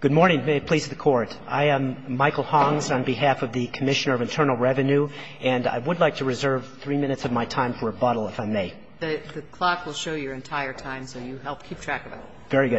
Good morning. May it please the Court. I am Michael Hongs on behalf of the Commissioner of Internal Revenue, and I would like to reserve three minutes of my time for rebuttal, if I may. The clock will show your entire time, so you help keep track of it. Thank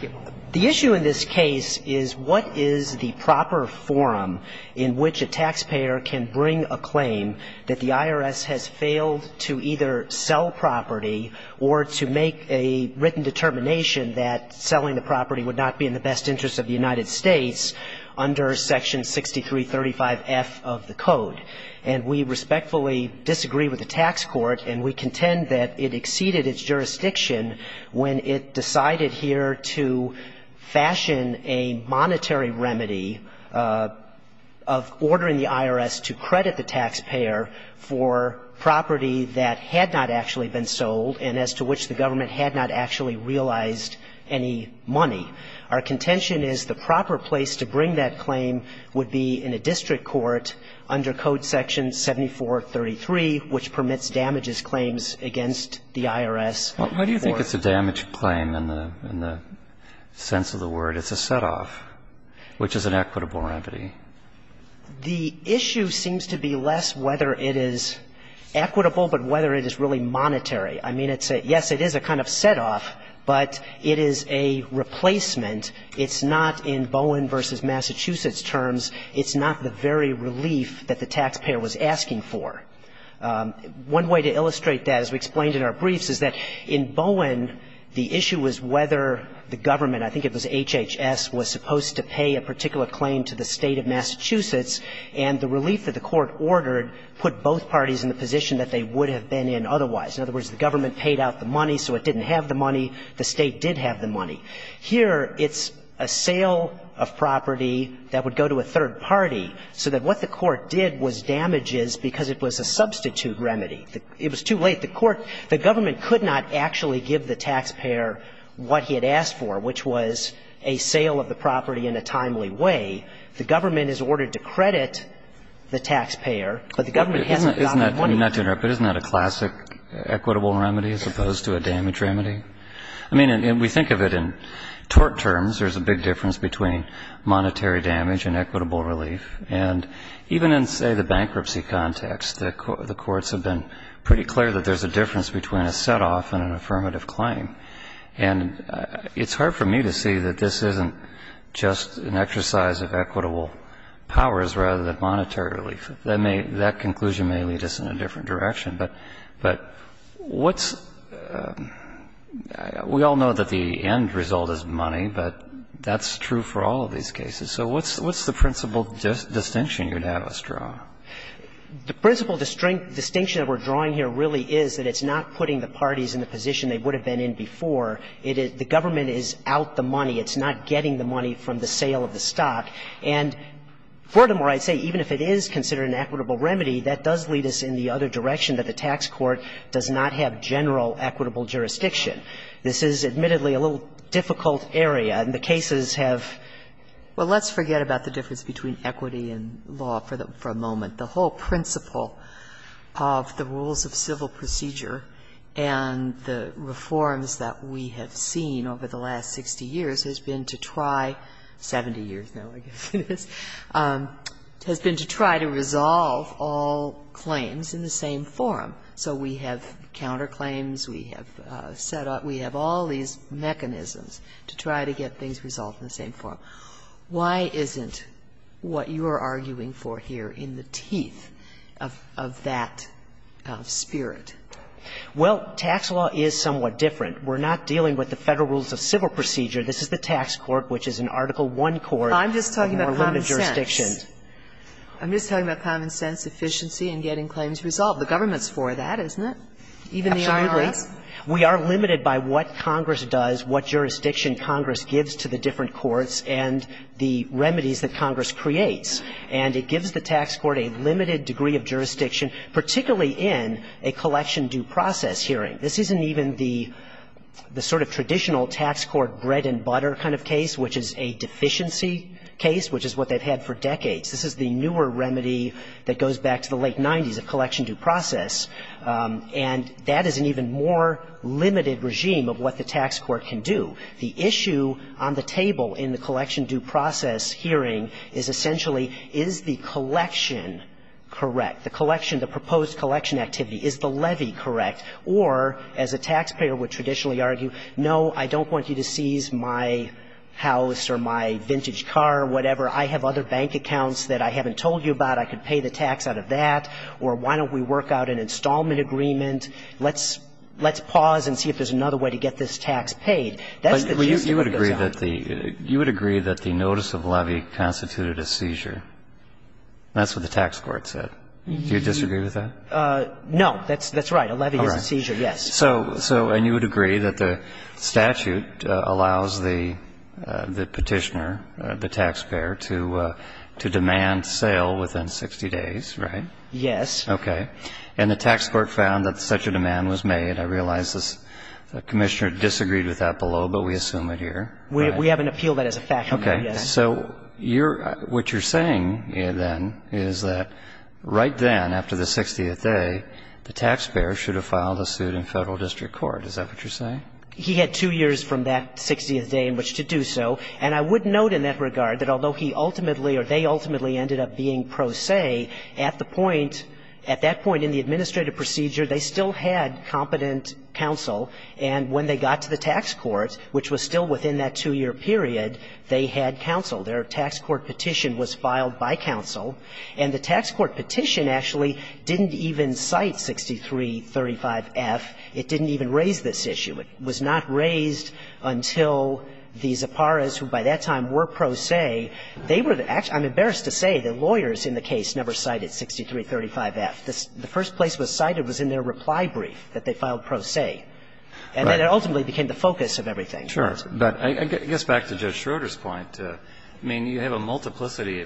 you. The issue in this case is what is the proper forum in which a taxpayer can bring a claim that the IRS has failed to either sell property or to make a written determination that selling the property would not be in the best interest of the United States under Section 6335F of the Code. And we respectfully disagree with the tax court, and we contend that it exceeded its jurisdiction when it decided here to fashion a monetary remedy of ordering the IRS to credit the taxpayer for property that had not actually been sold and as to which the government had not actually realized any money. Our contention is the proper place to bring that claim would be in a district court under Code Section 7433, which permits damages claims against the IRS. Why do you think it's a damage claim in the sense of the word? It's a setoff, which is an equitable remedy. The issue seems to be less whether it is equitable, but whether it is really monetary. I mean, yes, it is a kind of setoff, but it is a replacement. It's not in Bowen v. Massachusetts terms. It's not the very relief that the taxpayer was asking for. One way to illustrate that, as we explained in our briefs, is that in Bowen, the issue was whether the government, I think it was HHS, was supposed to pay a particular claim to the State of Massachusetts, and the relief that the court ordered put both parties in the position that they would have been in otherwise. In other words, the government paid out the money, so it didn't have the money. The State did have the money. Here, it's a sale of property that would go to a third party, so that what the court did was damages because it was a substitute remedy. It was too late. The government could not actually give the taxpayer what he had asked for, which was a sale of the property in a timely way. The government is ordered to credit the taxpayer, but the government hasn't gotten the money. I mean, not to interrupt, but isn't that a classic equitable remedy as opposed to a damage remedy? I mean, we think of it in tort terms. There's a big difference between monetary damage and equitable relief. And even in, say, the bankruptcy context, the courts have been pretty clear that there's a difference between a set-off and an affirmative claim. And it's hard for me to see that this isn't just an exercise of equitable powers rather than monetary relief. That may – that conclusion may lead us in a different direction. But what's – we all know that the end result is money, but that's true for all of these cases. So what's the principal distinction you'd have us draw? The principal distinction that we're drawing here really is that it's not putting the parties in the position they would have been in before. It is – the government is out the money. It's not getting the money from the sale of the stock. And furthermore, I'd say even if it is considered an equitable remedy, that does lead us in the other direction, that the tax court does not have general equitable jurisdiction. This is, admittedly, a little difficult area, and the cases have – well, let's forget about the difference between equity and law for a moment. The whole principle of the rules of civil procedure and the reforms that we have seen over the last 60 years has been to try – 70 years now, I guess it is – has been to try to resolve all claims in the same forum. So we have counterclaims. We have set up – we have all these mechanisms to try to get things resolved in the same forum. Why isn't what you are arguing for here in the teeth of that spirit? Well, tax law is somewhat different. We're not dealing with the Federal rules of civil procedure. This is the tax court, which is an Article I court of more limited jurisdiction. I'm just talking about common sense. I'm just talking about common sense, efficiency, and getting claims resolved. The government's for that, isn't it? Absolutely. Even the IRS? We are limited by what Congress does, what jurisdiction Congress gives to the different courts and the remedies that Congress creates. And it gives the tax court a limited degree of jurisdiction, particularly in a collection due process hearing. This isn't even the sort of traditional tax court bread and butter kind of case, which is a deficiency case, which is what they've had for decades. This is the newer remedy that goes back to the late 90s, a collection due process. And that is an even more limited regime of what the tax court can do. The issue on the table in the collection due process hearing is essentially is the collection correct? The collection, the proposed collection activity, is the levy correct? Or, as a taxpayer would traditionally argue, no, I don't want you to seize my house or my vintage car or whatever. I have other bank accounts that I haven't told you about. I could pay the tax out of that. Or why don't we work out an installment agreement? Let's pause and see if there's another way to get this tax paid. That's the issue that goes on. But you would agree that the notice of levy constituted a seizure. That's what the tax court said. Do you disagree with that? No. That's right. A levy is a seizure, yes. All right. So, and you would agree that the statute allows the Petitioner, the taxpayer, to demand sale within 60 days, right? Yes. Okay. And the tax court found that such a demand was made. I realize the Commissioner disagreed with that below, but we assume it here. We haven't appealed that as a fact yet. Okay. So what you're saying then is that right then, after the 60th day, the taxpayer should have filed a suit in Federal district court. Is that what you're saying? He had two years from that 60th day in which to do so. And I would note in that regard that although he ultimately or they ultimately ended up being pro se, at the point, at that point in the administrative procedure, they still had competent counsel. And when they got to the tax court, which was still within that two-year period, they had counsel. Their tax court petition was filed by counsel. And the tax court petition actually didn't even cite 6335F. It didn't even raise this issue. It was not raised until the Zapparas, who by that time were pro se, they were the actual – I'm embarrassed to say the lawyers in the case never cited 6335F. The first place it was cited was in their reply brief that they filed pro se. And then it ultimately became the focus of everything. Sure. But I guess back to Judge Schroeder's point, I mean, you have a multiplicity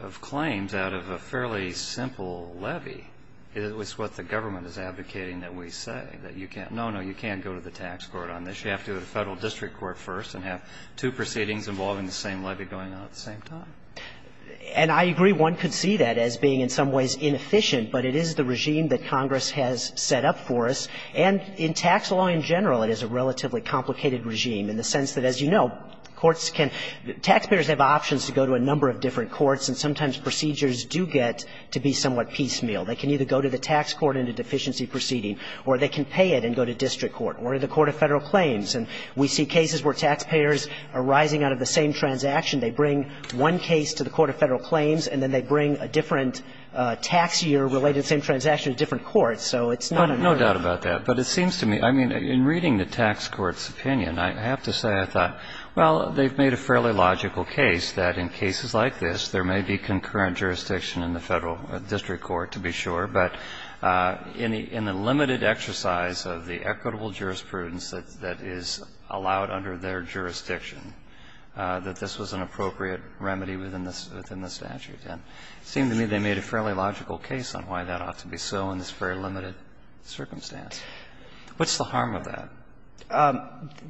of claims out of a fairly simple levy. It's what the government is advocating that we say, that you can't – no, no, you can't go to the tax court on this. You have to go to the Federal district court first and have two proceedings involving the same levy going on at the same time. And I agree one could see that as being in some ways inefficient, but it is the regime that Congress has set up for us. And in tax law in general, it is a relatively complicated regime in the sense that, as you know, courts can – taxpayers have options to go to a number of different courts, and sometimes procedures do get to be somewhat piecemeal. They can either go to the tax court in a deficiency proceeding or they can pay it and go to district court or the court of Federal claims. And we see cases where taxpayers are rising out of the same transaction. They bring one case to the court of Federal claims, and then they bring a different tax year related to the same transaction to different courts. So it's not a really – No doubt about that. But it seems to me – I mean, in reading the tax court's opinion, I have to say I thought, well, they've made a fairly logical case that in cases like this, there may be concurrent jurisdiction in the Federal district court, to be sure, but in the limited exercise of the equitable jurisprudence that is allowed under their jurisdiction, that this was an appropriate remedy within the statute. And it seemed to me they made a fairly logical case on why that ought to be so in this very limited circumstance. What's the harm of that?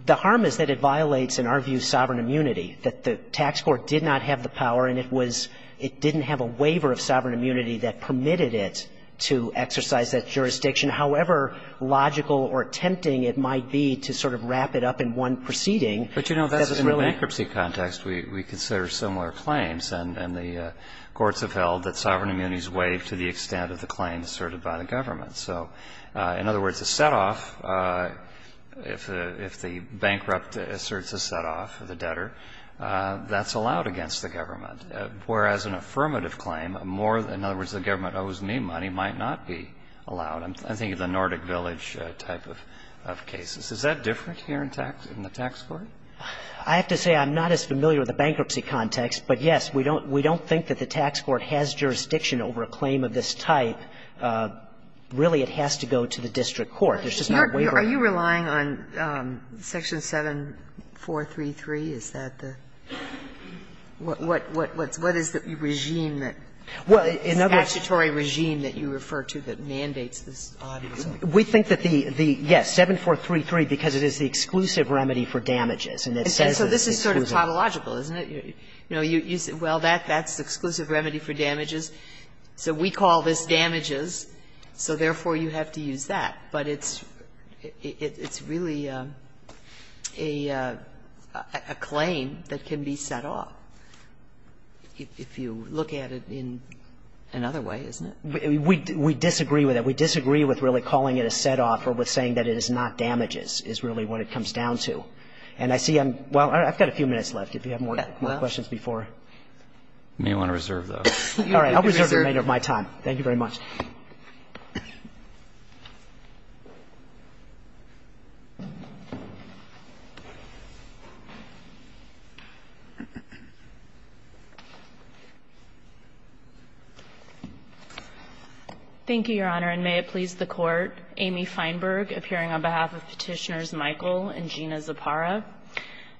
The harm is that it violates, in our view, sovereign immunity, that the tax court did not have the power and it was – it didn't have a waiver of sovereign immunity that permitted it to exercise that jurisdiction, however logical or tempting it might be to sort of wrap it up in one proceeding. But, you know, that's in a bankruptcy context. We consider similar claims, and the courts have held that sovereign immunity is waived to the extent of the claim asserted by the government. So, in other words, a set-off, if the bankrupt asserts a set-off, the debtor, that's allowed against the government, whereas an affirmative claim, more – in other words, the government owes me money, might not be allowed. I'm thinking of the Nordic Village type of cases. Is that different here in the tax court? I have to say I'm not as familiar with the bankruptcy context, but, yes, we don't – we don't think that the tax court has jurisdiction over a claim of this type. Really, it has to go to the district court. There's just not a waiver. Are you relying on Section 7433? Is that the – what is the regime that – the statutory regime that you refer to that mandates this audits? We think that the – yes, 7433, because it is the exclusive remedy for damages. And it says it's exclusive. And so this is sort of topological, isn't it? You know, you say, well, that's the exclusive remedy for damages. So we call this damages. So, therefore, you have to use that. But it's really a claim that can be set off, if you look at it in another way, isn't it? We disagree with that. We disagree with really calling it a set-off or with saying that it is not damages is really what it comes down to. And I see I'm – well, I've got a few minutes left, if you have more questions before. You may want to reserve those. All right. I'll reserve the remainder of my time. Thank you very much. Thank you, Your Honor. And may it please the Court. Amy Feinberg, appearing on behalf of Petitioners Michael and Gina Zappara.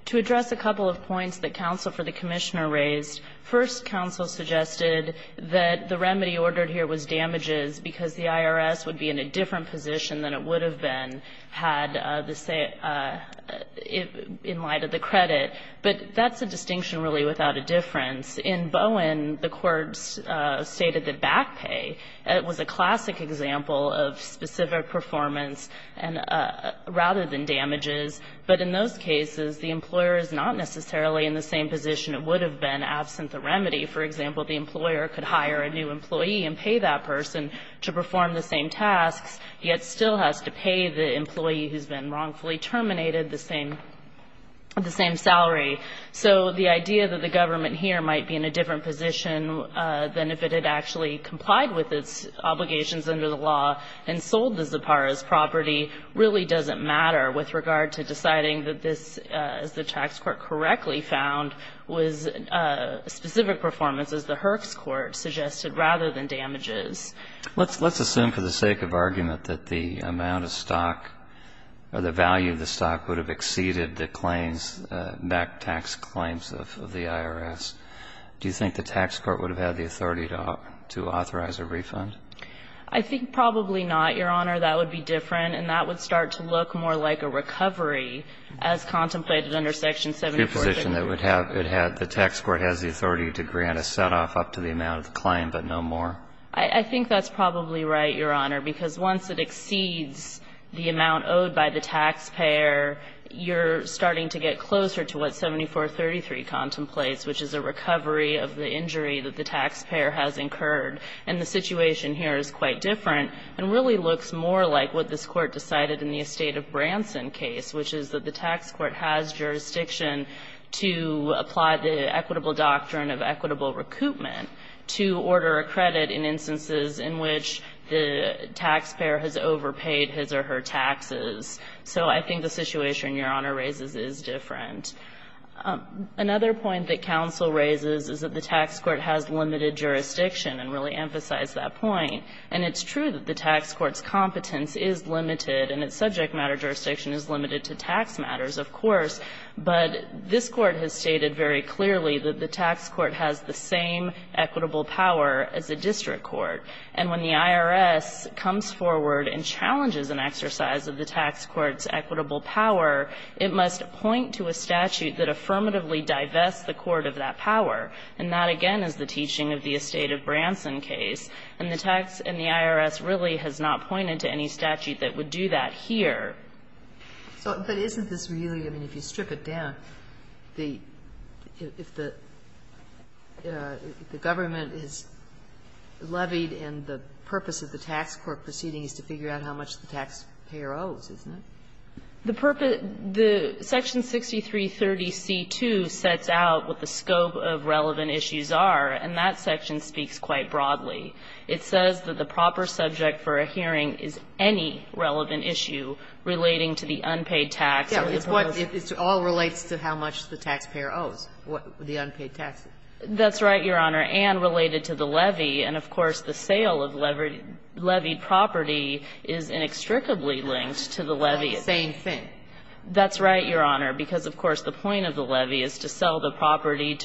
To address a couple of points that counsel for the Commissioner raised, first, counsel suggested that the remedy ordered here was damages because the IRS would be in a different position than it would have been had the same – in light of the credit. But that's a distinction really without a difference. In Bowen, the courts stated that back pay was a classic example of specific performance and – rather than damages. But in those cases, the employer is not necessarily in the same position it would be if, for example, the employer could hire a new employee and pay that person to perform the same tasks, yet still has to pay the employee who's been wrongfully terminated the same salary. So the idea that the government here might be in a different position than if it had actually complied with its obligations under the law and sold the Zapparas property really doesn't matter with regard to deciding that this, as the tax court correctly found, was a specific performance, as the Herx court suggested, rather than damages. Let's assume for the sake of argument that the amount of stock or the value of the stock would have exceeded the claims, back tax claims of the IRS. Do you think the tax court would have had the authority to authorize a refund? I think probably not, Your Honor. That would be different, and that would start to look more like a recovery as contemplated under Section 747. The position that it would have, the tax court has the authority to grant a set-off up to the amount of the claim, but no more. I think that's probably right, Your Honor, because once it exceeds the amount owed by the taxpayer, you're starting to get closer to what 7433 contemplates, which is a recovery of the injury that the taxpayer has incurred. And the situation here is quite different and really looks more like what this court decided in the Estate of Branson case, which is that the tax court has jurisdiction to apply the equitable doctrine of equitable recoupment to order a credit in instances in which the taxpayer has overpaid his or her taxes. So I think the situation Your Honor raises is different. Another point that counsel raises is that the tax court has limited jurisdiction and really emphasized that point. And it's true that the tax court's competence is limited and its subject matter jurisdiction is limited to tax matters, of course, but this Court has stated very clearly that the tax court has the same equitable power as a district court. And when the IRS comes forward and challenges an exercise of the tax court's equitable power, it must point to a statute that affirmatively divests the court of that power. And that, again, is the teaching of the Estate of Branson case. And the tax and the IRS really has not pointed to any statute that would do that here. So, but isn't this really, I mean, if you strip it down, the, if the, if the government is levied and the purpose of the tax court proceeding is to figure out how much the taxpayer owes, isn't it? The purpose, the Section 6330C2 sets out what the scope of relevant issues are, and that section speaks quite broadly. It says that the proper subject for a hearing is any relevant issue relating to the unpaid tax or the purpose. Kagan. It all relates to how much the taxpayer owes, the unpaid taxes. That's right, Your Honor, and related to the levy. And, of course, the sale of levied property is inextricably linked to the levy. The same thing. That's right, Your Honor, because, of course, the point of the levy is to sell the property,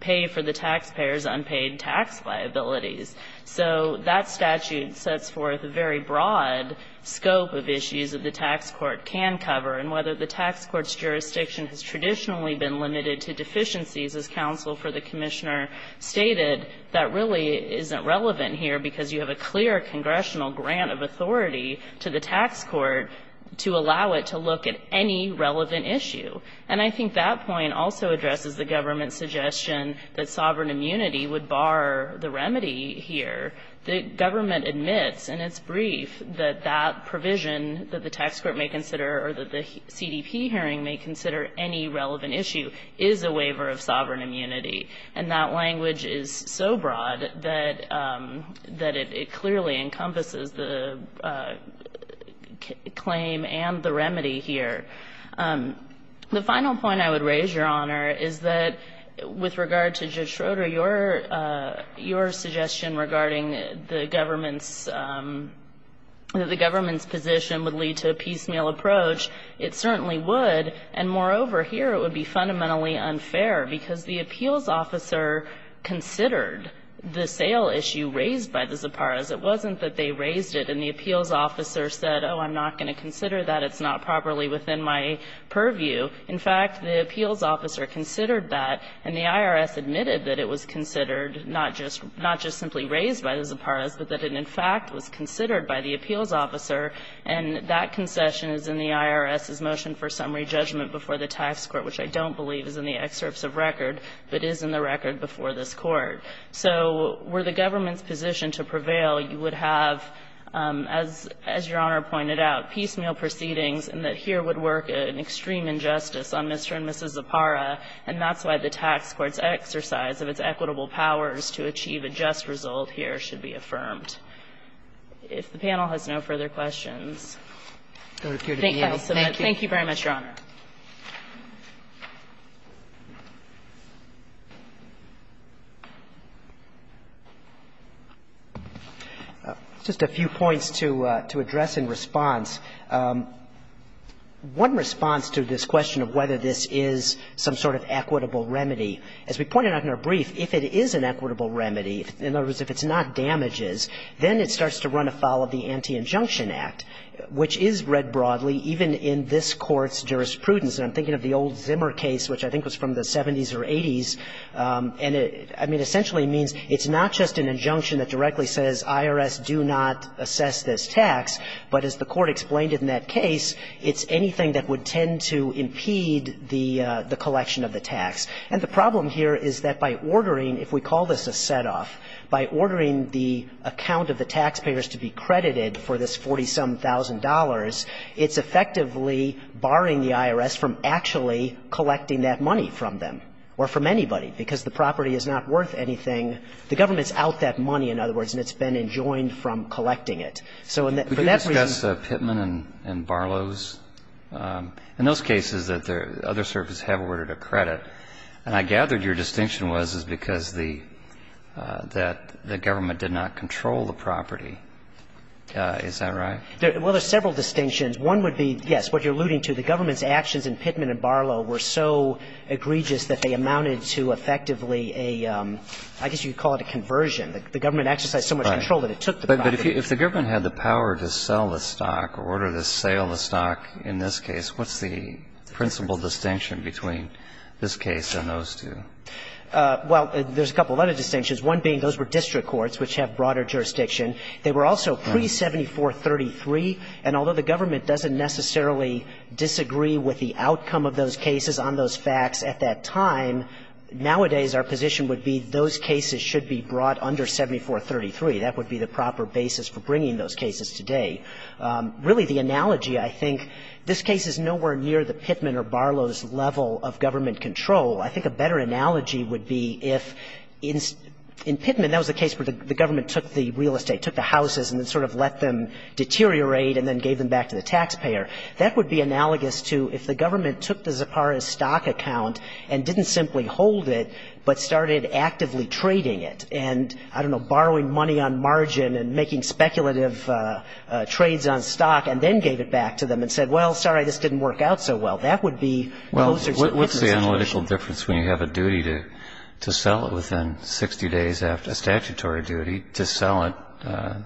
pay for the taxpayer's unpaid tax liabilities. So that statute sets forth a very broad scope of issues that the tax court can cover. And whether the tax court's jurisdiction has traditionally been limited to deficiencies, as counsel for the Commissioner stated, that really isn't relevant here, because you have a clear congressional grant of authority to the tax court to allow it to look at any relevant issue. And I think that point also addresses the government's suggestion that sovereign immunity would bar the remedy here. The government admits in its brief that that provision that the tax court may consider or that the CDP hearing may consider any relevant issue is a waiver of sovereign immunity. And that language is so broad that it clearly encompasses the claim and the remedy here. The final point I would raise, Your Honor, is that with regard to Judge Schroeder, your suggestion regarding the government's position would lead to a piecemeal approach. It certainly would. And, moreover, here it would be fundamentally unfair, because the appeals officer considered the sale issue raised by the Zapparas. It wasn't that they raised it and the appeals officer said, oh, I'm not going to consider that. It's not properly within my purview. In fact, the appeals officer considered that, and the IRS admitted that it was considered not just simply raised by the Zapparas, but that it, in fact, was considered by the appeals officer. And that concession is in the IRS's motion for summary judgment before the tax court, which I don't believe is in the excerpts of record, but is in the record before this Court. So were the government's position to prevail, you would have, as Your Honor pointed out, piecemeal proceedings, and that here would work an extreme injustice on Mr. and Mrs. Zappara, and that's why the tax court's exercise of its equitable powers to achieve a just result here should be affirmed. If the panel has no further questions, I would appear to be able to submit. Thank you very much, Your Honor. Just a few points to address in response. One response to this question of whether this is some sort of equitable remedy, as we pointed out in our brief, if it is an equitable remedy, in other words, if it's not damages, then it starts to run afoul of the Anti-Injunction Act, which is read And I'm thinking of the old Zimmer case, which I think was from the 70s or 80s. And it, I mean, essentially means it's not just an injunction that directly says IRS, do not assess this tax, but as the Court explained in that case, it's anything that would tend to impede the collection of the tax. And the problem here is that by ordering, if we call this a set-off, by ordering the account of the taxpayers to be credited for this $40-some-thousand, it's effectively barring the IRS from actually collecting that money from them or from anybody, because the property is not worth anything. The government's out that money, in other words, and it's been enjoined from collecting it. So for that reason We can discuss Pittman and Barlow's. In those cases, other services have ordered a credit. And I gathered your distinction was because the government did not control the property. Is that right? Well, there's several distinctions. One would be, yes, what you're alluding to, the government's actions in Pittman and Barlow were so egregious that they amounted to effectively a, I guess you'd call it a conversion. The government exercised so much control that it took the property. But if the government had the power to sell the stock or order to sale the stock in this case, what's the principal distinction between this case and those two? Well, there's a couple of other distinctions, one being those were district courts, which have broader jurisdiction. They were also pre-7433, and although the government doesn't necessarily disagree with the outcome of those cases on those facts at that time, nowadays our position would be those cases should be brought under 7433. That would be the proper basis for bringing those cases today. Really the analogy, I think, this case is nowhere near the Pittman or Barlow's level of government control. I think a better analogy would be if in Pittman, that was the case where the government took the real estate, took the houses, and then sort of let them deteriorate and then gave them back to the taxpayer. That would be analogous to if the government took the Zapara's stock account and didn't simply hold it, but started actively trading it and, I don't know, borrowing money on margin and making speculative trades on stock and then gave it back to them and said, well, sorry, this didn't work out so well. That would be closer to the situation. Well, what's the analytical difference when you have a duty to sell it within 60 days after a statutory duty to sell it?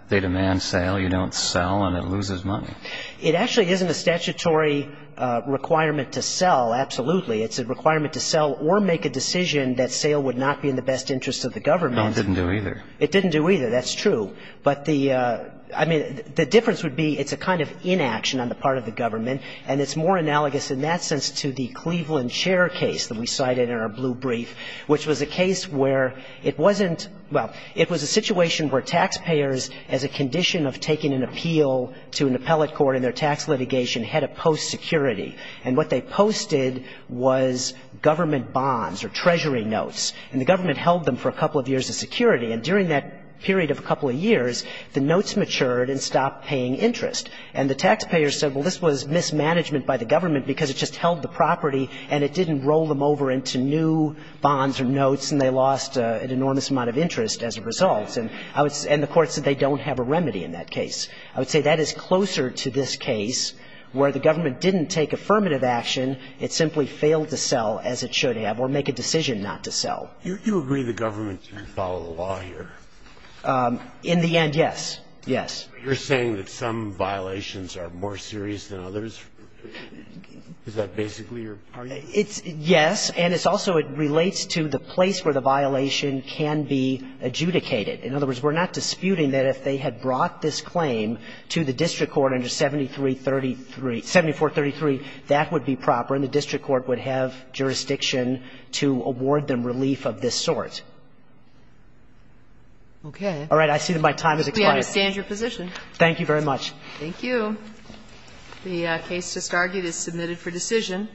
They demand sale. You don't sell and it loses money. It actually isn't a statutory requirement to sell, absolutely. It's a requirement to sell or make a decision that sale would not be in the best interest of the government. No, it didn't do either. It didn't do either. That's true. But the, I mean, the difference would be it's a kind of inaction on the part of the government, and it's more analogous in that sense to the Cleveland share case that we Well, it was a situation where taxpayers, as a condition of taking an appeal to an appellate court in their tax litigation, had a post security. And what they posted was government bonds or treasury notes. And the government held them for a couple of years as security. And during that period of a couple of years, the notes matured and stopped paying interest. And the taxpayers said, well, this was mismanagement by the government because it just held the property and it didn't roll them over into new bonds or notes and they lost an enormous amount of interest as a result. And the court said they don't have a remedy in that case. I would say that is closer to this case where the government didn't take affirmative action. It simply failed to sell as it should have or make a decision not to sell. You agree the government should follow the law here? In the end, yes. Yes. You're saying that some violations are more serious than others? Is that basically your argument? It's yes. And it's also it relates to the place where the violation can be adjudicated. In other words, we're not disputing that if they had brought this claim to the district court under 7333 7433, that would be proper and the district court would have jurisdiction to award them relief of this sort. Okay. All right. I see that my time has expired. We understand your position. Thank you very much. Thank you. The case just argued is submitted for decision.